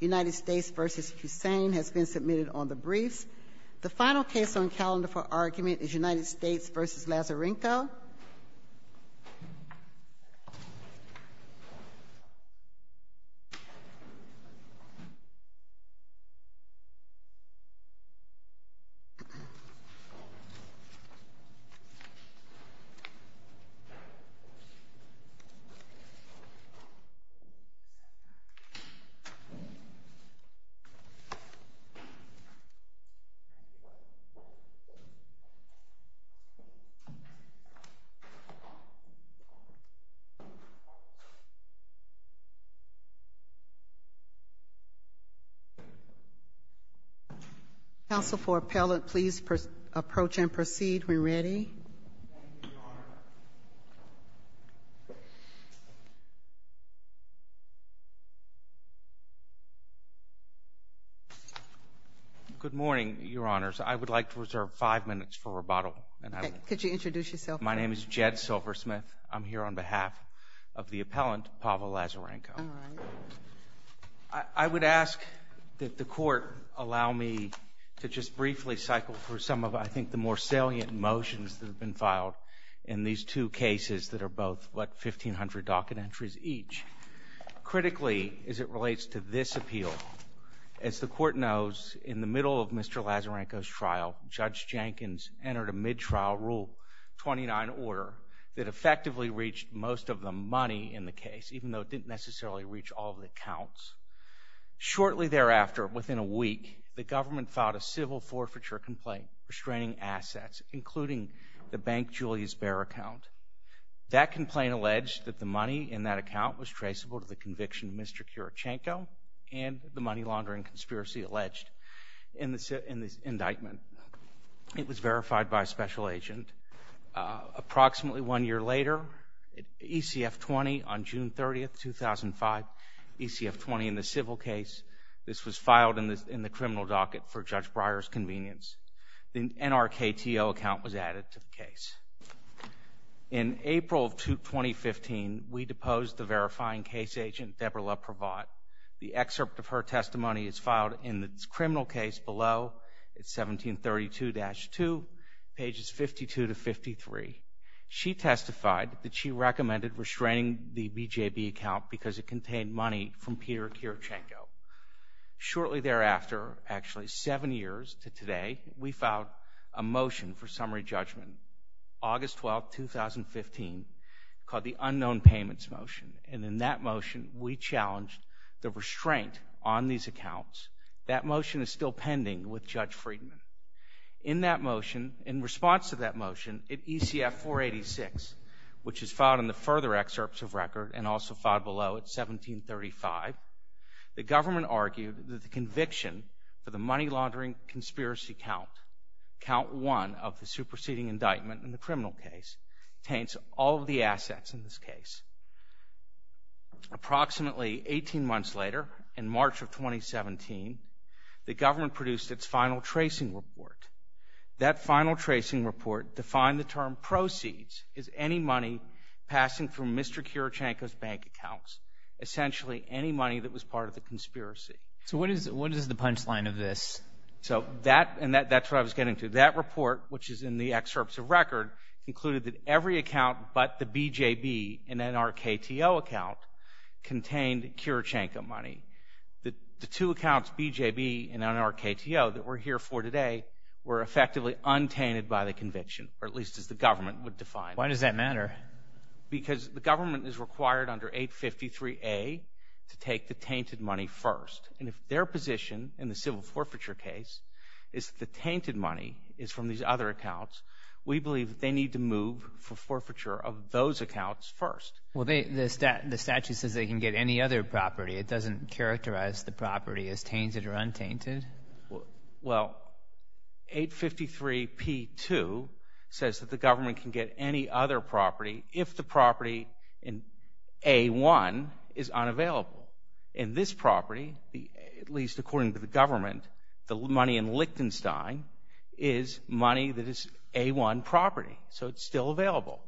United States v. Hussein has been submitted on the briefs. Council, for appellate, please approach and proceed when ready. Thank you, Your Honor. Good morning, Your Honors. I would like to reserve five minutes for rebuttal. Could you introduce yourself? My name is Jed Silversmith. I'm here on behalf of the appellant, Pavel Lazarenko. All right. I would ask that the Court allow me to just briefly cycle through some of, I think, the more salient motions that have been filed in these two cases that are both, what, 1,500 docket entries each. Critically, as it relates to this appeal, as the Court knows, in the middle of Mr. Lazarenko's trial, Judge Jenkins entered a mid-trial Rule 29 order that effectively reached most of the money in the case, even though it didn't necessarily reach all of the accounts. Shortly thereafter, within a week, the government filed a civil forfeiture complaint restraining assets, including the Bank Julius Baer account. That complaint alleged that the money in that account was traceable to the conviction of Mr. Kurochenko and the money laundering conspiracy alleged in this indictment. It was verified by a special agent. Approximately one year later, ECF-20, on June 30, 2005, ECF-20 in the civil case, this was filed in the criminal docket for Judge Breyer's convenience. The NRKTO account was added to the case. In April of 2015, we deposed the verifying case agent, Deborah Leprovod. The excerpt of her testimony is filed in the criminal case below. It's 1732-2, pages 52 to 53. She testified that she recommended restraining the BJB account because it contained money from Peter Kurochenko. Shortly thereafter, actually seven years to today, we filed a motion for summary judgment, August 12, 2015, called the unknown payments motion. And in that motion, we challenged the restraint on these accounts. That motion is still pending with Judge Friedman. In that motion, in response to that motion, at ECF-486, which is filed in the further excerpts of record and also filed below at 1735, the government argued that the conviction for the money laundering conspiracy count, count one of the superseding indictment in the criminal case, taints all of the assets in this case. Approximately 18 months later, in March of 2017, the government produced its final tracing report. That final tracing report defined the term proceeds as any money passing through Mr. Kurochenko's bank accounts, essentially any money that was part of the conspiracy. So what is the punchline of this? So that, and that's what I was getting to. That report, which is in the excerpts of record, included that every account but the BJB in our KTO account contained Kurochenko money. The two accounts, BJB and our KTO, that we're here for today were effectively untainted by the conviction, or at least as the government would define. Why does that matter? Because the government is required under 853A to take the tainted money first. And if their position in the civil forfeiture case is the tainted money is from these other accounts, we believe that they need to move for forfeiture of those accounts first. Well, the statute says they can get any other property. It doesn't characterize the property as tainted or untainted? Well, 853P2 says that the government can get any other property if the property in A1 is unavailable. In this property, at least according to the government, the money in Lichtenstein is money that is A1 property. So it's still available.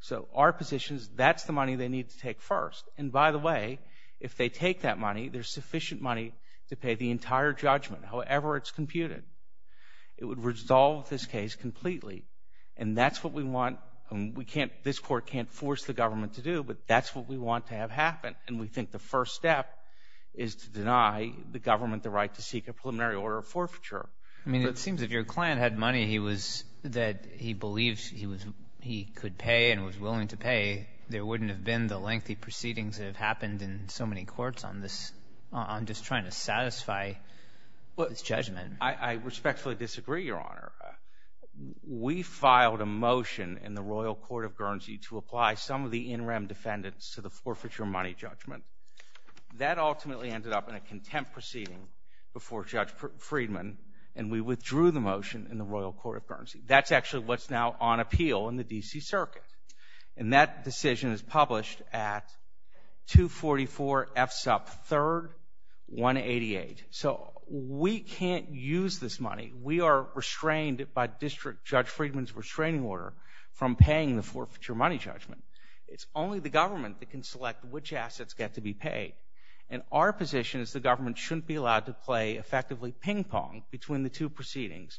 So our position is that's the money they need to take first. And by the way, if they take that money, there's sufficient money to pay the entire judgment, however it's computed. It would resolve this case completely. And that's what we want. This court can't force the government to do, but that's what we want to have happen. And we think the first step is to deny the government the right to seek a preliminary order of forfeiture. I mean, it seems if your client had money that he believed he could pay and was willing to pay, there wouldn't have been the lengthy proceedings that have happened in so many courts on just trying to satisfy this judgment. I respectfully disagree, Your Honor. We filed a motion in the Royal Court of Guernsey to apply some of the in-rem defendants to the forfeiture money judgment. That ultimately ended up in a contempt proceeding before Judge Friedman, and we withdrew the motion in the Royal Court of Guernsey. That's actually what's now on appeal in the D.C. Circuit. And that decision is published at 244 F. Supp. 3, 188. So we can't use this money. We are restrained by District Judge Friedman's restraining order from paying the forfeiture money judgment. It's only the government that can select which assets get to be paid. And our position is the government shouldn't be allowed to play effectively ping-pong between the two proceedings.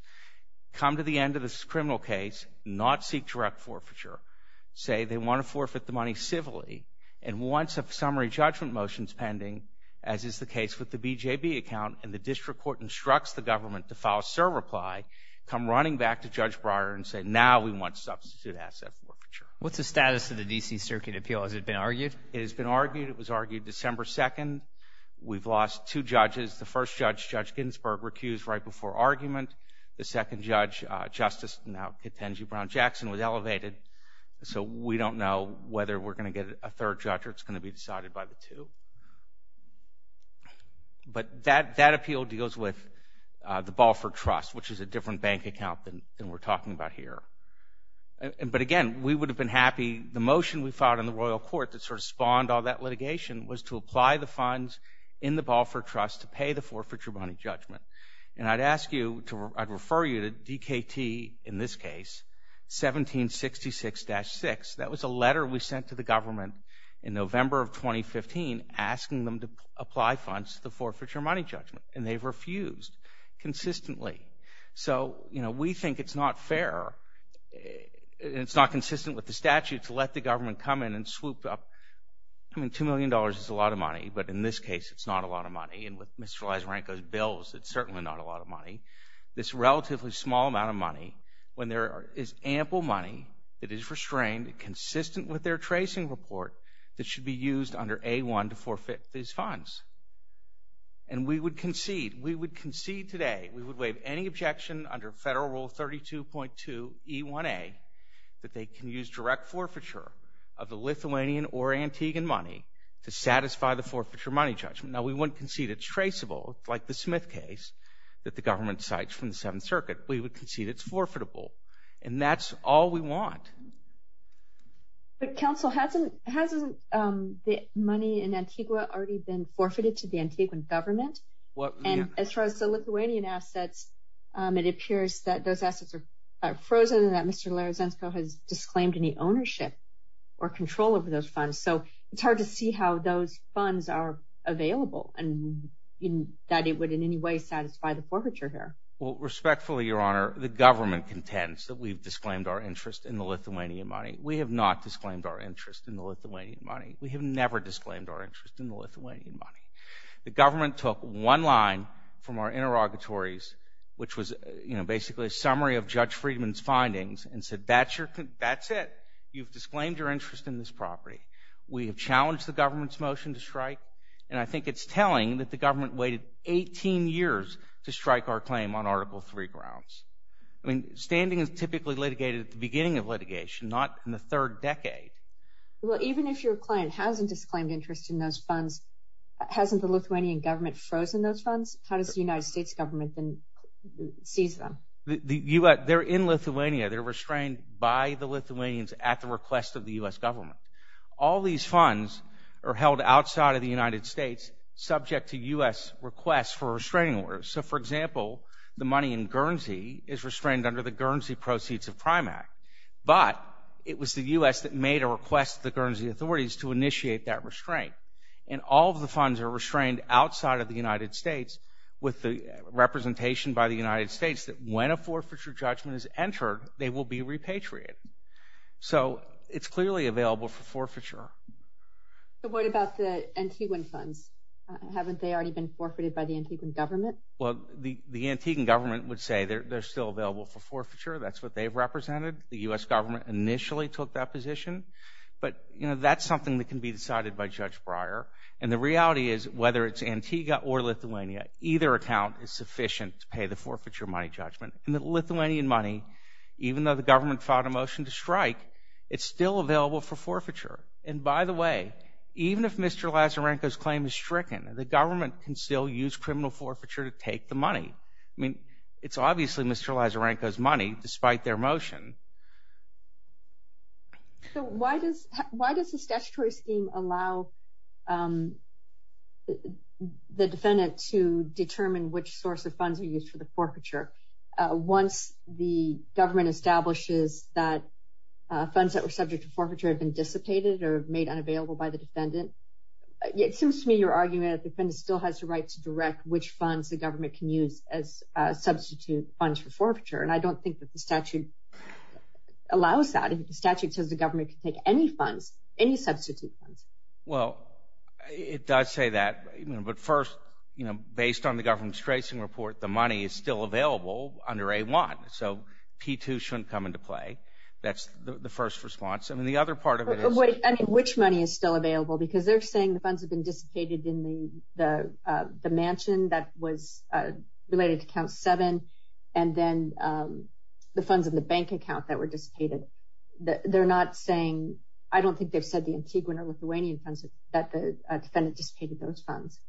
Come to the end of this criminal case, not seek direct forfeiture. Say they want to forfeit the money civilly, and once a summary judgment motion is pending, as is the case with the BJB account, and the district court instructs the government to file a SIR reply, come running back to Judge Breyer and say, now we want substitute asset forfeiture. What's the status of the D.C. Circuit appeal? Has it been argued? It has been argued. It was argued December 2nd. We've lost two judges. The first judge, Judge Ginsburg, recused right before argument. The second judge, Justice now Katenji Brown-Jackson, was elevated. So we don't know whether we're going to get a third judge or it's going to be decided by the two. But that appeal deals with the Balfour Trust, which is a different bank account than we're talking about here. But again, we would have been happy, the motion we filed in the royal court that sort of spawned all that litigation was to apply the funds in the Balfour Trust to pay the forfeiture money judgment. And I'd ask you to, I'd refer you to DKT in this case, 1766-6. That was a letter we sent to the government in November of 2015 asking them to apply funds to the forfeiture money judgment, and they've refused consistently. So, you know, we think it's not fair and it's not consistent with the statute to let the government come in and swoop up. I mean, $2 million is a lot of money, but in this case it's not a lot of money. And with Mr. Lazarenko's bills, it's certainly not a lot of money. This relatively small amount of money when there is ample money that is restrained and consistent with their tracing report that should be used under A-1 to forfeit these funds. And we would concede. We would concede today. We would waive any objection under Federal Rule 32.2E1A that they can use direct forfeiture of the Lithuanian or Antiguan money to satisfy the forfeiture money judgment. Now, we wouldn't concede it's traceable like the Smith case that the government cites from the Seventh Circuit. We would concede it's forfeitable. And that's all we want. But, counsel, hasn't the money in Antigua already been forfeited to the Antiguan government? And as far as the Lithuanian assets, it appears that those assets are frozen and that Mr. Lazarenko has disclaimed any ownership or control over those funds. So it's hard to see how those funds are available and that it would in any way satisfy the forfeiture here. Well, respectfully, Your Honor, the government contends that we've disclaimed our interest in the Lithuanian money. We have not disclaimed our interest in the Lithuanian money. We have never disclaimed our interest in the Lithuanian money. The government took one line from our interrogatories, which was basically a summary of Judge Friedman's findings, and said, that's it. You've disclaimed your interest in this property. We have challenged the government's motion to strike. And I think it's telling that the government waited 18 years to strike our claim on Article III grounds. I mean, standing is typically litigated at the beginning of litigation, not in the third decade. Well, even if your client hasn't disclaimed interest in those funds, hasn't the Lithuanian government frozen those funds? How does the United States government then seize them? They're in Lithuania. They're restrained by the Lithuanians at the request of the U.S. government. All these funds are held outside of the United States, subject to U.S. requests for restraining orders. So, for example, the money in Guernsey is restrained under the Guernsey Proceeds of Authorities to initiate that restraint. And all of the funds are restrained outside of the United States with the representation by the United States that when a forfeiture judgment is entered, they will be repatriated. So, it's clearly available for forfeiture. But what about the Antiguan funds? Haven't they already been forfeited by the Antiguan government? Well, the Antiguan government would say they're still available for forfeiture. That's what they've represented. The U.S. government initially took that position. But, you know, that's something that can be decided by Judge Breyer. And the reality is, whether it's Antigua or Lithuania, either account is sufficient to pay the forfeiture money judgment. And the Lithuanian money, even though the government filed a motion to strike, it's still available for forfeiture. And by the way, even if Mr. Lazarenko's claim is stricken, the government can still use criminal forfeiture to take the money. I mean, it's obviously Mr. Lazarenko's money, despite their motion. So, why does the statutory scheme allow the defendant to determine which source of funds are used for the forfeiture once the government establishes that funds that were subject to forfeiture have been dissipated or made unavailable by the defendant? It seems to me you're arguing that the defendant still has the right to direct which funds the government can use as substitute funds for forfeiture. And I don't think that the statute allows that. The statute says the government can take any funds, any substitute funds. Well, it does say that. But first, you know, based on the government's tracing report, the money is still available under A-1. So, P-2 shouldn't come into play. That's the first response. I mean, the other part of it is... I mean, which money is still available? Because they're saying the funds have been dissipated in the mansion that was related to Count 7 and then the funds in the bank account that were dissipated. They're not saying... I don't think they've said the Antiguan or Lithuanian funds that the defendant dissipated those funds.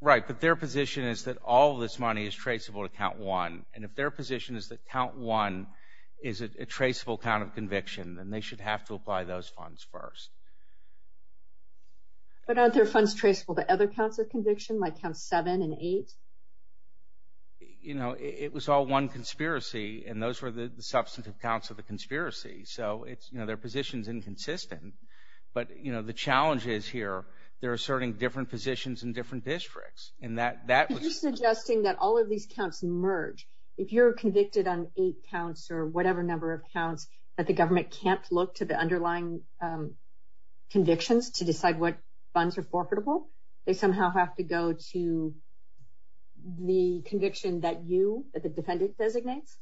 Right. But their position is that all this money is traceable to Count 1. And if their position is that Count 1 is a traceable count of conviction, then they should have to apply those funds first. But aren't their funds traceable to other counts of conviction, like Counts 7 and 8? You know, it was all one conspiracy, and those were the substantive counts of the conspiracy. So, you know, their position is inconsistent. But, you know, the challenge is here, they're asserting different positions in different districts. And that... Are you suggesting that all of these counts merge? If you're convicted on eight counts or whatever number of counts, that the government can't look to the underlying convictions to decide what funds are forfeitable? They somehow have to go to the conviction that you, that the defendant, designates?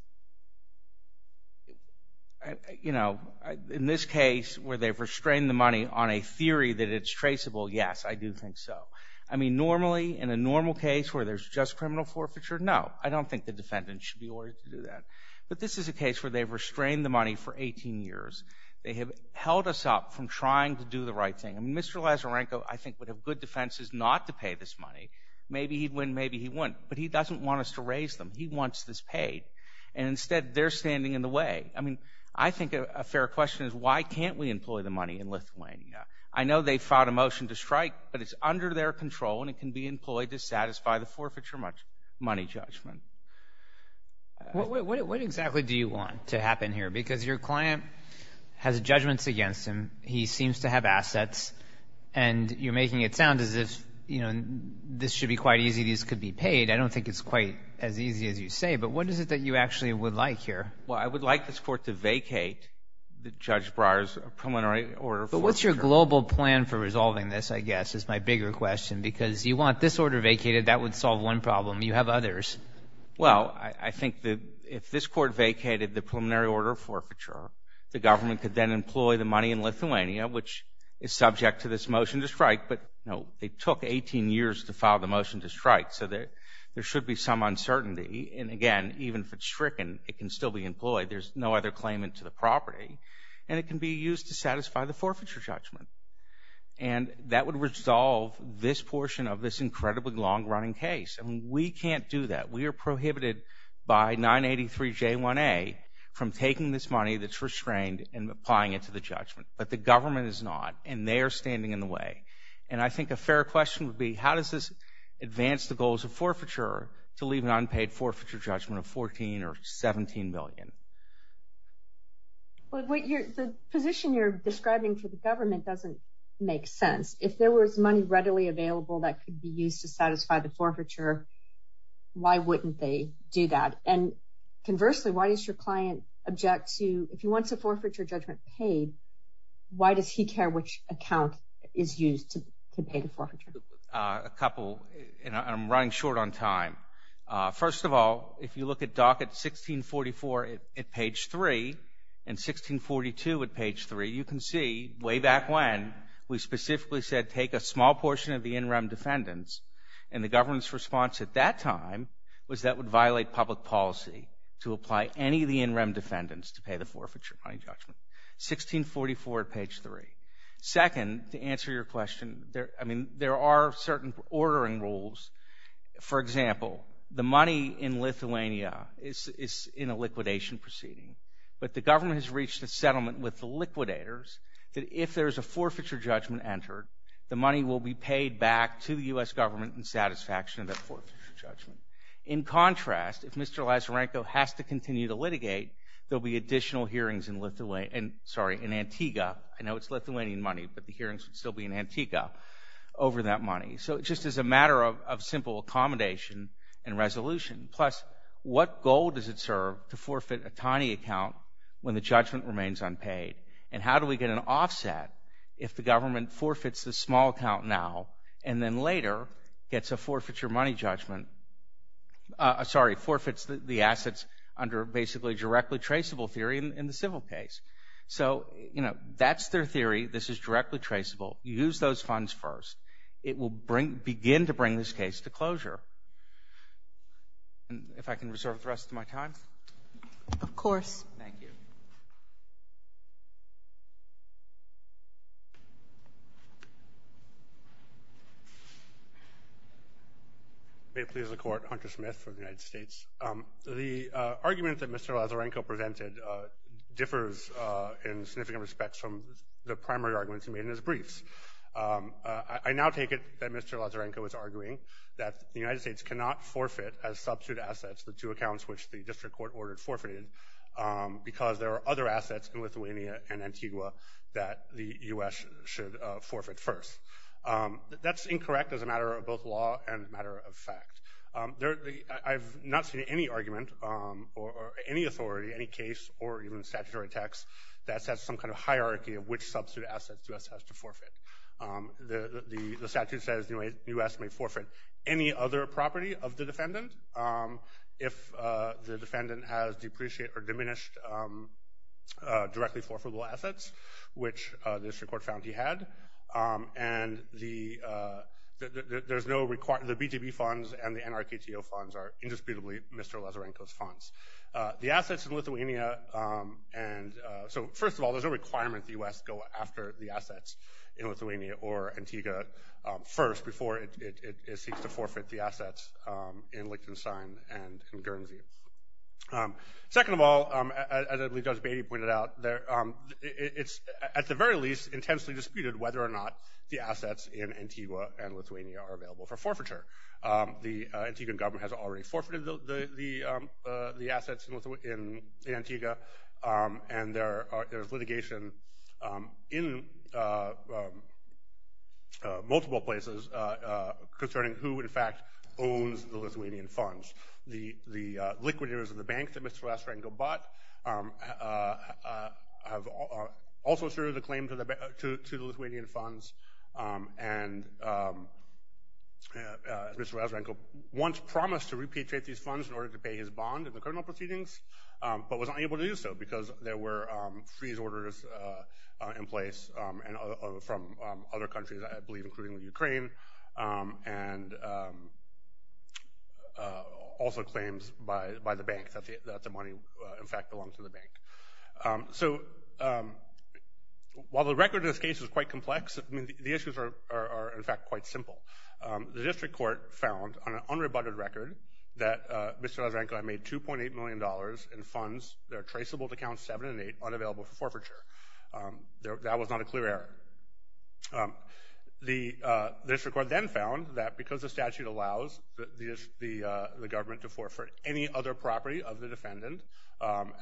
You know, in this case where they've restrained the money on a theory that it's traceable, yes, I do think so. I mean, normally, in a normal case where there's just criminal forfeiture, no. I don't think the defendant should be ordered to do that. But this is a case where they've restrained the money for 18 years. They have held us up from trying to do the right thing. And Mr. Lazarenko, I think, would have good defenses not to pay this money. Maybe he'd win, maybe he wouldn't. But he doesn't want us to raise them. He wants this paid. And instead, they're standing in the way. I mean, I think a fair question is why can't we employ the money in Lithuania? I know they filed a motion to strike, but it's under their control, and it can be employed to satisfy the forfeiture money judgment. What exactly do you want to happen here? Because your client has judgments against him. He seems to have assets, and you're making it sound as if, you know, this should be quite easy. These could be paid. I don't think it's quite as easy as you say. But what is it that you actually would like here? Well, I would like this Court to vacate Judge Breyer's preliminary order for forfeiture. But what's your global plan for resolving this, I guess, is my bigger question, because you want this order vacated. That would solve one problem. You have others. Well, I think that if this Court vacated the preliminary order for forfeiture, the government could then employ the money in Lithuania, which is subject to this motion to strike. But, you know, it took 18 years to file the motion to strike, so there should be some uncertainty. And, again, even if it's stricken, it can still be employed. There's no other claimant to the property, and it can be used to satisfy the forfeiture judgment. And that would resolve this portion of this incredibly long-running case. And we can't do that. We are prohibited by 983J1A from taking this money that's restrained and applying it to the judgment. But the government is not, and they are standing in the way. And I think a fair question would be how does this advance the goals of forfeiture to leave an unpaid forfeiture judgment of $14 or $17 million? The position you're describing for the government doesn't make sense. If there was money readily available that could be used to satisfy the forfeiture, why wouldn't they do that? And, conversely, why does your client object to if he wants a forfeiture judgment paid, why does he care which account is used to pay the forfeiture? A couple, and I'm running short on time. First of all, if you look at docket 1644 at page 3 and 1642 at page 3, you can see way back when we specifically said take a small portion of the in-rem defendants, and the government's response at that time was that would violate public policy to apply any of the in-rem defendants to pay the forfeiture money judgment. 1644 at page 3. Second, to answer your question, I mean, there are certain ordering rules. For example, the money in Lithuania is in a liquidation proceeding, but the government has reached a settlement with the liquidators that if there is a forfeiture judgment entered, the money will be paid back to the U.S. government in satisfaction of that forfeiture judgment. In contrast, if Mr. Lazarenko has to continue to litigate, there will be additional hearings in Antigua. I know it's Lithuanian money, but the hearings would still be in Antigua over that money. So it just is a matter of simple accommodation and resolution. Plus, what goal does it serve to forfeit a tiny account when the judgment remains unpaid? And how do we get an offset if the government forfeits the small account now and then later gets a forfeiture money judgment? Sorry, forfeits the assets under basically directly traceable theory in the civil case. So, you know, that's their theory. This is directly traceable. Use those funds first. It will begin to bring this case to closure. If I can reserve the rest of my time. Of course. Thank you. May it please the Court, Hunter Smith from the United States. The argument that Mr. Lazarenko presented differs in significant respects from the primary arguments he made in his briefs. I now take it that Mr. Lazarenko is arguing that the United States cannot forfeit as substitute assets the two accounts which the district court ordered forfeited because there are other assets in Lithuania and Antigua that the U.S. should forfeit first. That's incorrect as a matter of both law and a matter of fact. I've not seen any argument or any authority, any case, or even statutory text that sets some kind of hierarchy of which substitute assets the U.S. has to forfeit. The statute says the U.S. may forfeit any other property of the defendant if the defendant has depreciated or diminished directly forfeitable assets, which the district court found he had. And the BGB funds and the NRKTO funds are indisputably Mr. Lazarenko's funds. The assets in Lithuania – so first of all, there's no requirement the U.S. go after the assets in Lithuania or Antigua first before it seeks to forfeit the assets in Liechtenstein and in Guernsey. Second of all, as I believe Judge Beatty pointed out, it's at the very least intensely disputed whether or not the assets in Antigua and Lithuania are available for forfeiture. The Antiguan government has already forfeited the assets in Antigua, and there's litigation in multiple places concerning who, in fact, owns the Lithuanian funds. The liquidators of the bank that Mr. Lazarenko bought have also asserted a claim to the Lithuanian funds and Mr. Lazarenko once promised to repatriate these funds in order to pay his bond in the criminal proceedings but was unable to do so because there were freeze orders in place from other countries, I believe, including Ukraine, and also claims by the bank that the money, in fact, belonged to the bank. So while the record in this case is quite complex, the issues are, in fact, quite simple. The district court found on an unrebutted record that Mr. Lazarenko had made $2.8 million in funds that are traceable to accounts 7 and 8 unavailable for forfeiture. That was not a clear error. The district court then found that because the statute allows the government to forfeit any other property of the defendant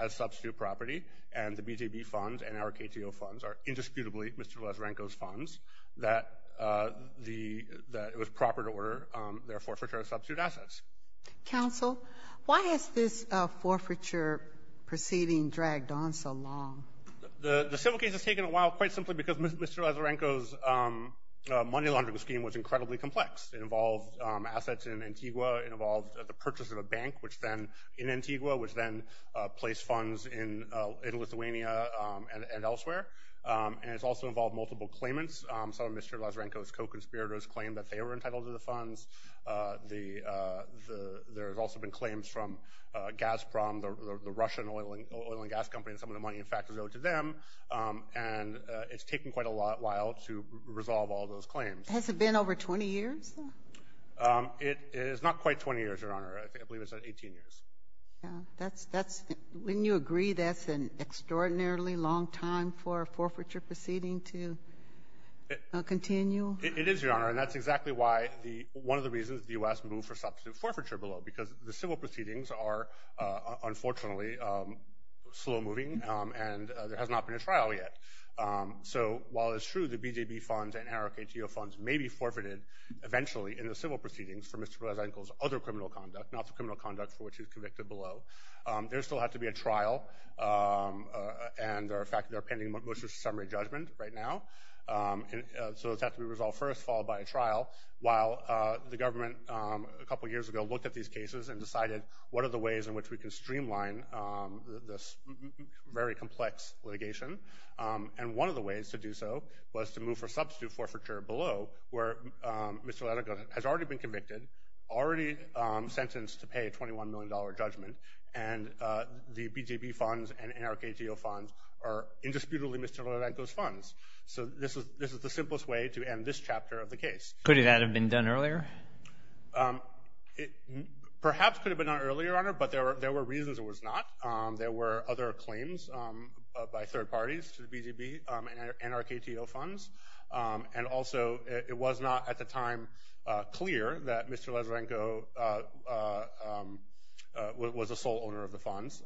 as substitute property, and the BJB funds and our KTO funds are indisputably Mr. Lazarenko's funds, that it was proper to order their forfeiture of substitute assets. Counsel, why has this forfeiture proceeding dragged on so long? The civil case has taken a while quite simply because Mr. Lazarenko's money laundering scheme was incredibly complex. It involved assets in Antigua. It involved the purchase of a bank in Antigua, which then placed funds in Lithuania and elsewhere. And it's also involved multiple claimants. Some of Mr. Lazarenko's co-conspirators claimed that they were entitled to the funds. There have also been claims from Gazprom, the Russian oil and gas company, and some of the money, in fact, is owed to them. And it's taken quite a while to resolve all those claims. Has it been over 20 years? It is not quite 20 years, Your Honor. I believe it's 18 years. Wouldn't you agree that's an extraordinarily long time for a forfeiture proceeding to continue? It is, Your Honor, and that's exactly one of the reasons the U.S. moved for substitute forfeiture below, because the civil proceedings are unfortunately slow-moving and there has not been a trial yet. So while it's true the BJB funds and NRKTO funds may be forfeited eventually in the civil proceedings for Mr. Lazarenko's other criminal conduct, not the criminal conduct for which he was convicted below, there still had to be a trial, and, in fact, they're pending motions of summary judgment right now. So it's had to be resolved first, followed by a trial, while the government a couple of years ago looked at these cases and decided, what are the ways in which we can streamline this very complex litigation? And one of the ways to do so was to move for substitute forfeiture below, where Mr. Lazarenko has already been convicted, already sentenced to pay a $21 million judgment, and the BJB funds and NRKTO funds are indisputably Mr. Lazarenko's funds. So this is the simplest way to end this chapter of the case. Could that have been done earlier? It perhaps could have been done earlier, Your Honor, but there were reasons it was not. There were other claims by third parties to the BJB and NRKTO funds, and also it was not at the time clear that Mr. Lazarenko was the sole owner of the funds.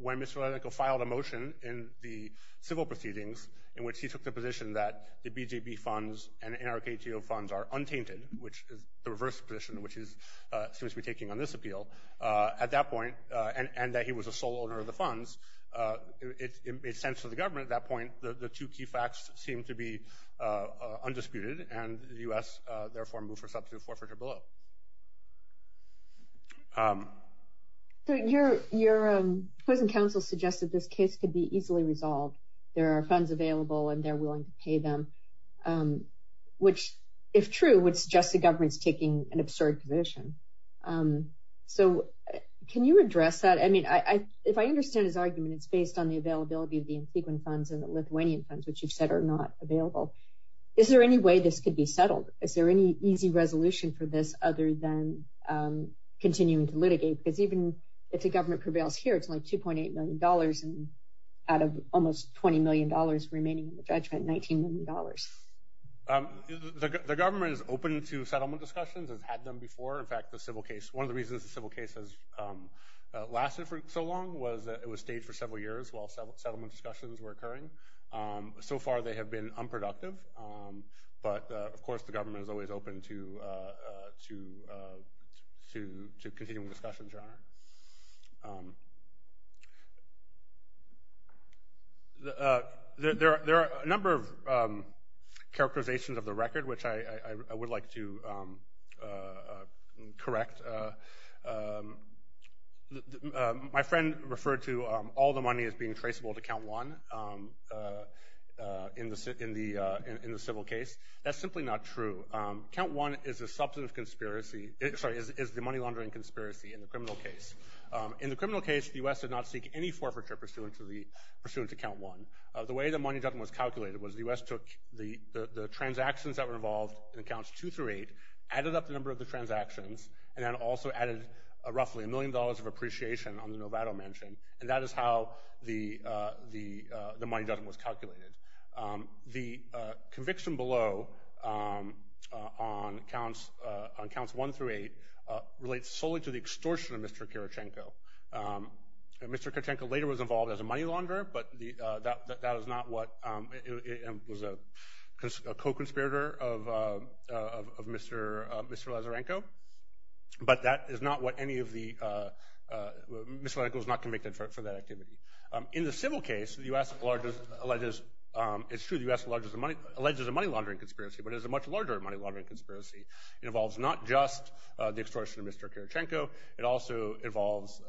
When Mr. Lazarenko filed a motion in the civil proceedings in which he took the position that the BJB funds and NRKTO funds are untainted, which is the reverse position, which he seems to be taking on this appeal, at that point, and that he was the sole owner of the funds, it made sense to the government at that point that the two key facts seemed to be undisputed, and the U.S. therefore moved for substitute forfeiture below. Your opposing counsel suggested this case could be easily resolved. There are funds available, and they're willing to pay them, which, if true, would suggest the government's taking an absurd position. So can you address that? I mean, if I understand his argument, it's based on the availability of the infrequent funds and the Lithuanian funds, which you've said are not available. Is there any way this could be settled? Is there any easy resolution for this other than continuing to litigate? Because even if the government prevails here, it's only $2.8 million, and out of almost $20 million remaining in the judgment, $19 million. The government is open to settlement discussions. It's had them before. In fact, one of the reasons the civil case has lasted for so long was that it was staged for several years while settlement discussions were occurring. So far they have been unproductive. But, of course, the government is always open to continuing discussions, Your Honor. There are a number of characterizations of the record, which I would like to correct. My friend referred to all the money as being traceable to Count One in the civil case. That's simply not true. Count One is the money laundering conspiracy in the criminal case. In the criminal case, the U.S. did not seek any forfeiture pursuant to Count One. The way the money judgment was calculated was the U.S. took the transactions that were involved in Counts Two through Eight, added up the number of the transactions, and then also added roughly a million dollars of appreciation on the Novato mansion, and that is how the money judgment was calculated. The conviction below on Counts One through Eight relates solely to the extortion of Mr. Kirichenko. Mr. Kirichenko later was involved as a money launderer, but that is not what—he was a co-conspirator of Mr. Lazarenko. But that is not what any of the—Mr. Lazarenko was not convicted for that activity. In the civil case, it's true the U.S. alleges a money laundering conspiracy, but it is a much larger money laundering conspiracy. It involves not just the extortion of Mr. Kirichenko. It also involves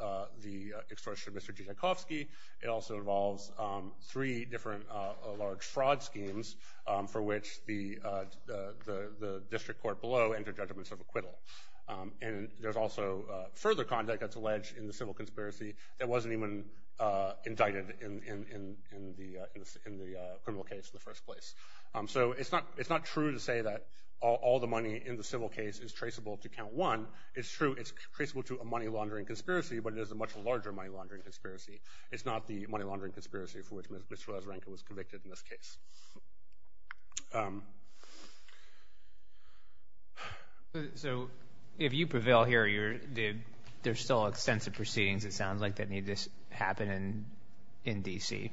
the extortion of Mr. Tchaikovsky. It also involves three different large fraud schemes for which the district court below entered judgments of acquittal. And there's also further conduct that's alleged in the civil conspiracy that wasn't even indicted in the criminal case in the first place. So it's not true to say that all the money in the civil case is traceable to Count One. It's true it's traceable to a money laundering conspiracy, but it is a much larger money laundering conspiracy. It's not the money laundering conspiracy for which Mr. Lazarenko was convicted in this case. So if you prevail here, there's still extensive proceedings, it sounds like, that need to happen in D.C.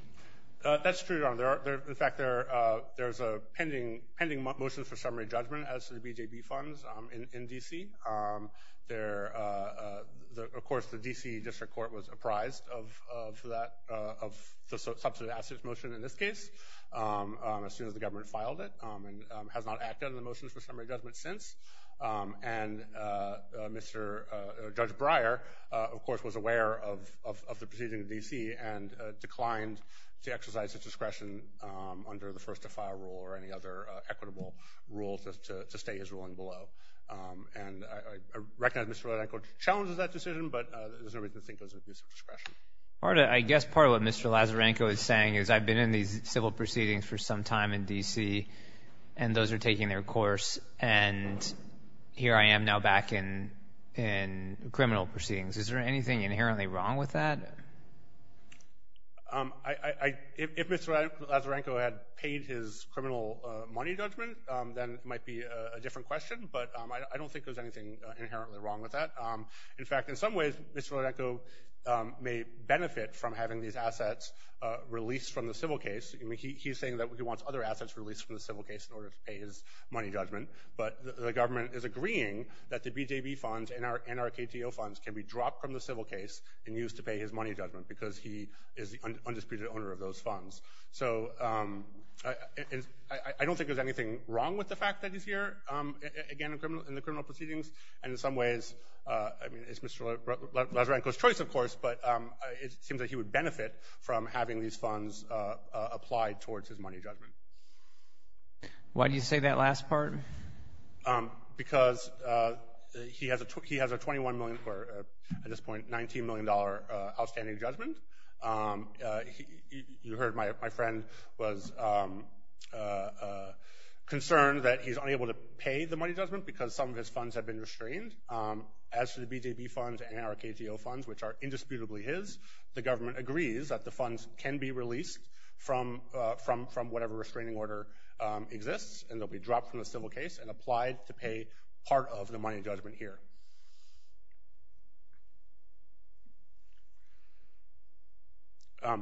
That's true, Your Honor. In fact, there's a pending motion for summary judgment as to the BJB funds in D.C. Of course, the D.C. District Court was apprised of the substantive assets motion in this case as soon as the government filed it and has not acted on the motion for summary judgment since. And Judge Breyer, of course, was aware of the proceeding in D.C. and declined to exercise his discretion under the first-to-file rule or any other equitable rule to stay his ruling below. And I recognize Mr. Lazarenko challenges that decision, but there's no reason to think it was an abuse of discretion. I guess part of what Mr. Lazarenko is saying is I've been in these civil proceedings for some time in D.C., and those are taking their course, and here I am now back in criminal proceedings. Is there anything inherently wrong with that? If Mr. Lazarenko had paid his criminal money judgment, then it might be a different question, but I don't think there's anything inherently wrong with that. In fact, in some ways, Mr. Lazarenko may benefit from having these assets released from the civil case. He's saying that he wants other assets released from the civil case in order to pay his money judgment, but the government is agreeing that the BJB funds and our KTO funds can be dropped from the civil case and used to pay his money judgment because he is the undisputed owner of those funds. So I don't think there's anything wrong with the fact that he's here, again, in the criminal proceedings. And in some ways, I mean, it's Mr. Lazarenko's choice, of course, but it seems that he would benefit from having these funds applied towards his money judgment. Why do you say that last part? Because he has a $21 million or, at this point, $19 million outstanding judgment. You heard my friend was concerned that he's unable to pay the money judgment because some of his funds have been restrained. As for the BJB funds and our KTO funds, which are indisputably his, the government agrees that the funds can be released from whatever restraining order exists and they'll be dropped from the civil case and applied to pay part of the money judgment here. Your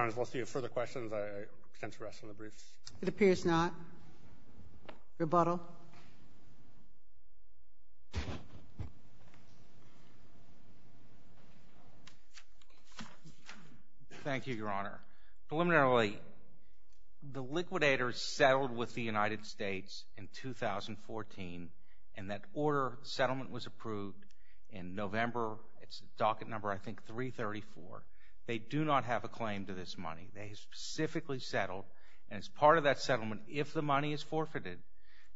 Honor, if we'll see further questions, I intend to rest on the brief. It appears not. Rebuttal. Thank you, Your Honor. Preliminarily, the liquidators settled with the United States in 2014, and that order settlement was approved in November. It's docket number, I think, 334. They do not have a claim to this money. They specifically settled. And as part of that settlement, if the money is forfeited,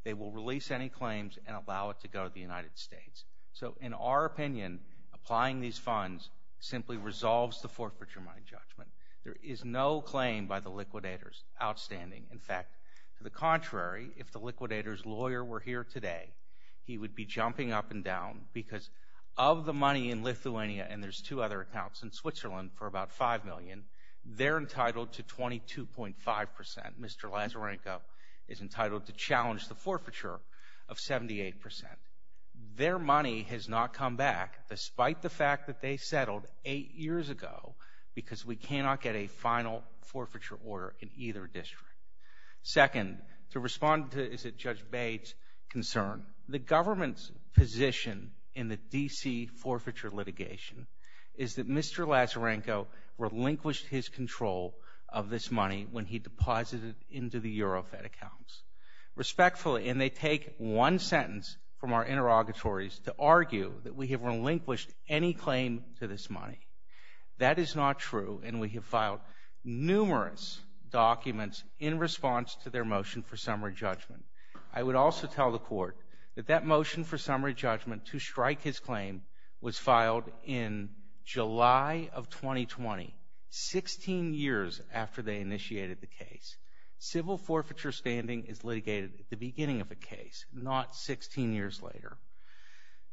they will release any claims and allow it to go to the United States. So in our opinion, applying these funds simply resolves the forfeiture money judgment. There is no claim by the liquidators outstanding. In fact, to the contrary, if the liquidators' lawyer were here today, he would be jumping up and down because of the money in Lithuania, and there's two other accounts in Switzerland for about $5 million, they're entitled to 22.5 percent. Mr. Lazarenko is entitled to challenge the forfeiture of 78 percent. Their money has not come back, despite the fact that they settled eight years ago because we cannot get a final forfeiture order in either district. Second, to respond to Judge Bates' concern, the government's position in the D.C. forfeiture litigation is that Mr. Lazarenko relinquished his control of this money when he deposited it into the Eurofed accounts. Respectfully, and they take one sentence from our interrogatories to argue that we have relinquished any claim to this money. That is not true, and we have filed numerous documents in response to their motion for summary judgment. I would also tell the Court that that motion for summary judgment to strike his claim was filed in July of 2020, 16 years after they initiated the case. Civil forfeiture standing is litigated at the beginning of the case, not 16 years later.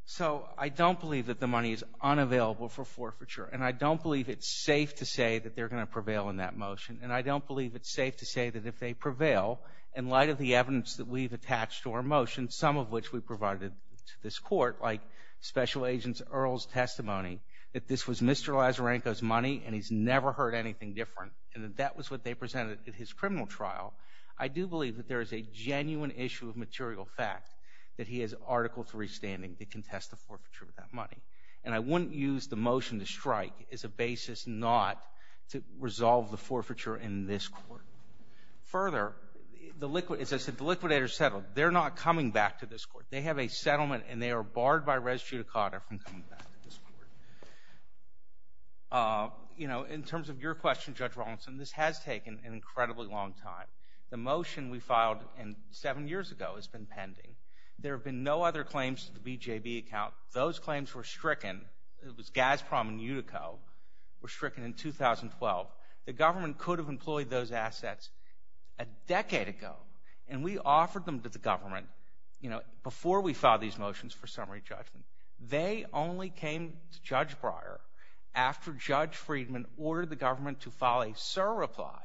So I don't believe that the money is unavailable for forfeiture, and I don't believe it's safe to say that they're going to prevail in that motion, and I don't believe it's safe to say that if they prevail, in light of the evidence that we've attached to our motion, some of which we provided to this Court, like Special Agent Earle's testimony, that this was Mr. Lazarenko's money and he's never heard anything different and that that was what they presented at his criminal trial, I do believe that there is a genuine issue of material fact that he has Article III standing to contest the forfeiture of that money. And I wouldn't use the motion to strike as a basis not to resolve the forfeiture in this Court. Further, as I said, the liquidators settled. They're not coming back to this Court. They have a settlement, and they are barred by res judicata from coming back to this Court. You know, in terms of your question, Judge Rawlinson, this has taken an incredibly long time. The motion we filed seven years ago has been pending. There have been no other claims to the BJB account. Those claims were stricken. It was Gazprom and Utico were stricken in 2012. The government could have employed those assets a decade ago, and we offered them to the government, you know, before we filed these motions for summary judgment. They only came to Judge Breyer after Judge Friedman ordered the government to file a surreply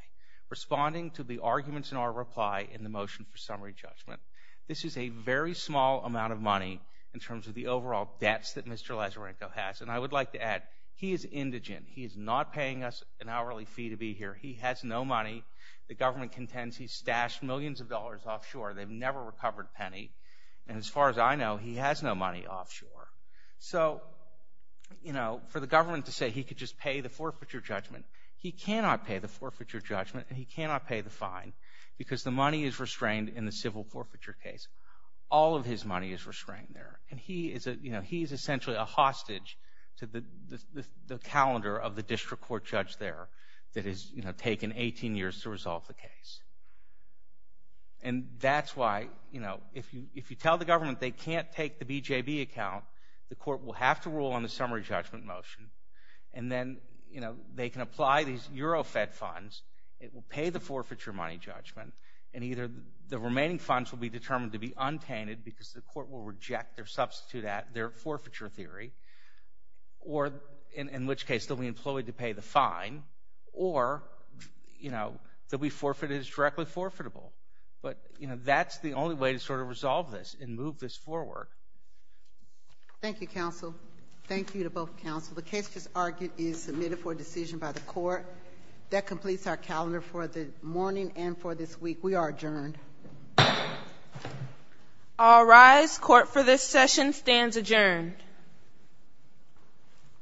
responding to the arguments in our reply in the motion for summary judgment. This is a very small amount of money in terms of the overall debts that Mr. Lazarenko has, and I would like to add he is indigent. He is not paying us an hourly fee to be here. He has no money. The government contends he stashed millions of dollars offshore. They've never recovered a penny, and as far as I know, he has no money offshore. So, you know, for the government to say he could just pay the forfeiture judgment, he cannot pay the forfeiture judgment, and he cannot pay the fine because the money is restrained in the civil forfeiture case. All of his money is restrained there, and he is essentially a hostage to the calendar of the district court judge there that has, you know, taken 18 years to resolve the case. And that's why, you know, if you tell the government they can't take the BJB account, the court will have to rule on the summary judgment motion, and then, you know, they can apply these Euro-fed funds. It will pay the forfeiture money judgment, and either the remaining funds will be determined to be untainted because the court will reject their forfeiture theory, or, in which case, they'll be employed to pay the fine, or, you know, they'll be forfeited as directly forfeitable. But, you know, that's the only way to sort of resolve this and move this forward. Thank you, counsel. Thank you to both counsel. The case just argued is submitted for decision by the court. That completes our calendar for the morning and for this week. We are adjourned. All rise. Court for this session stands adjourned.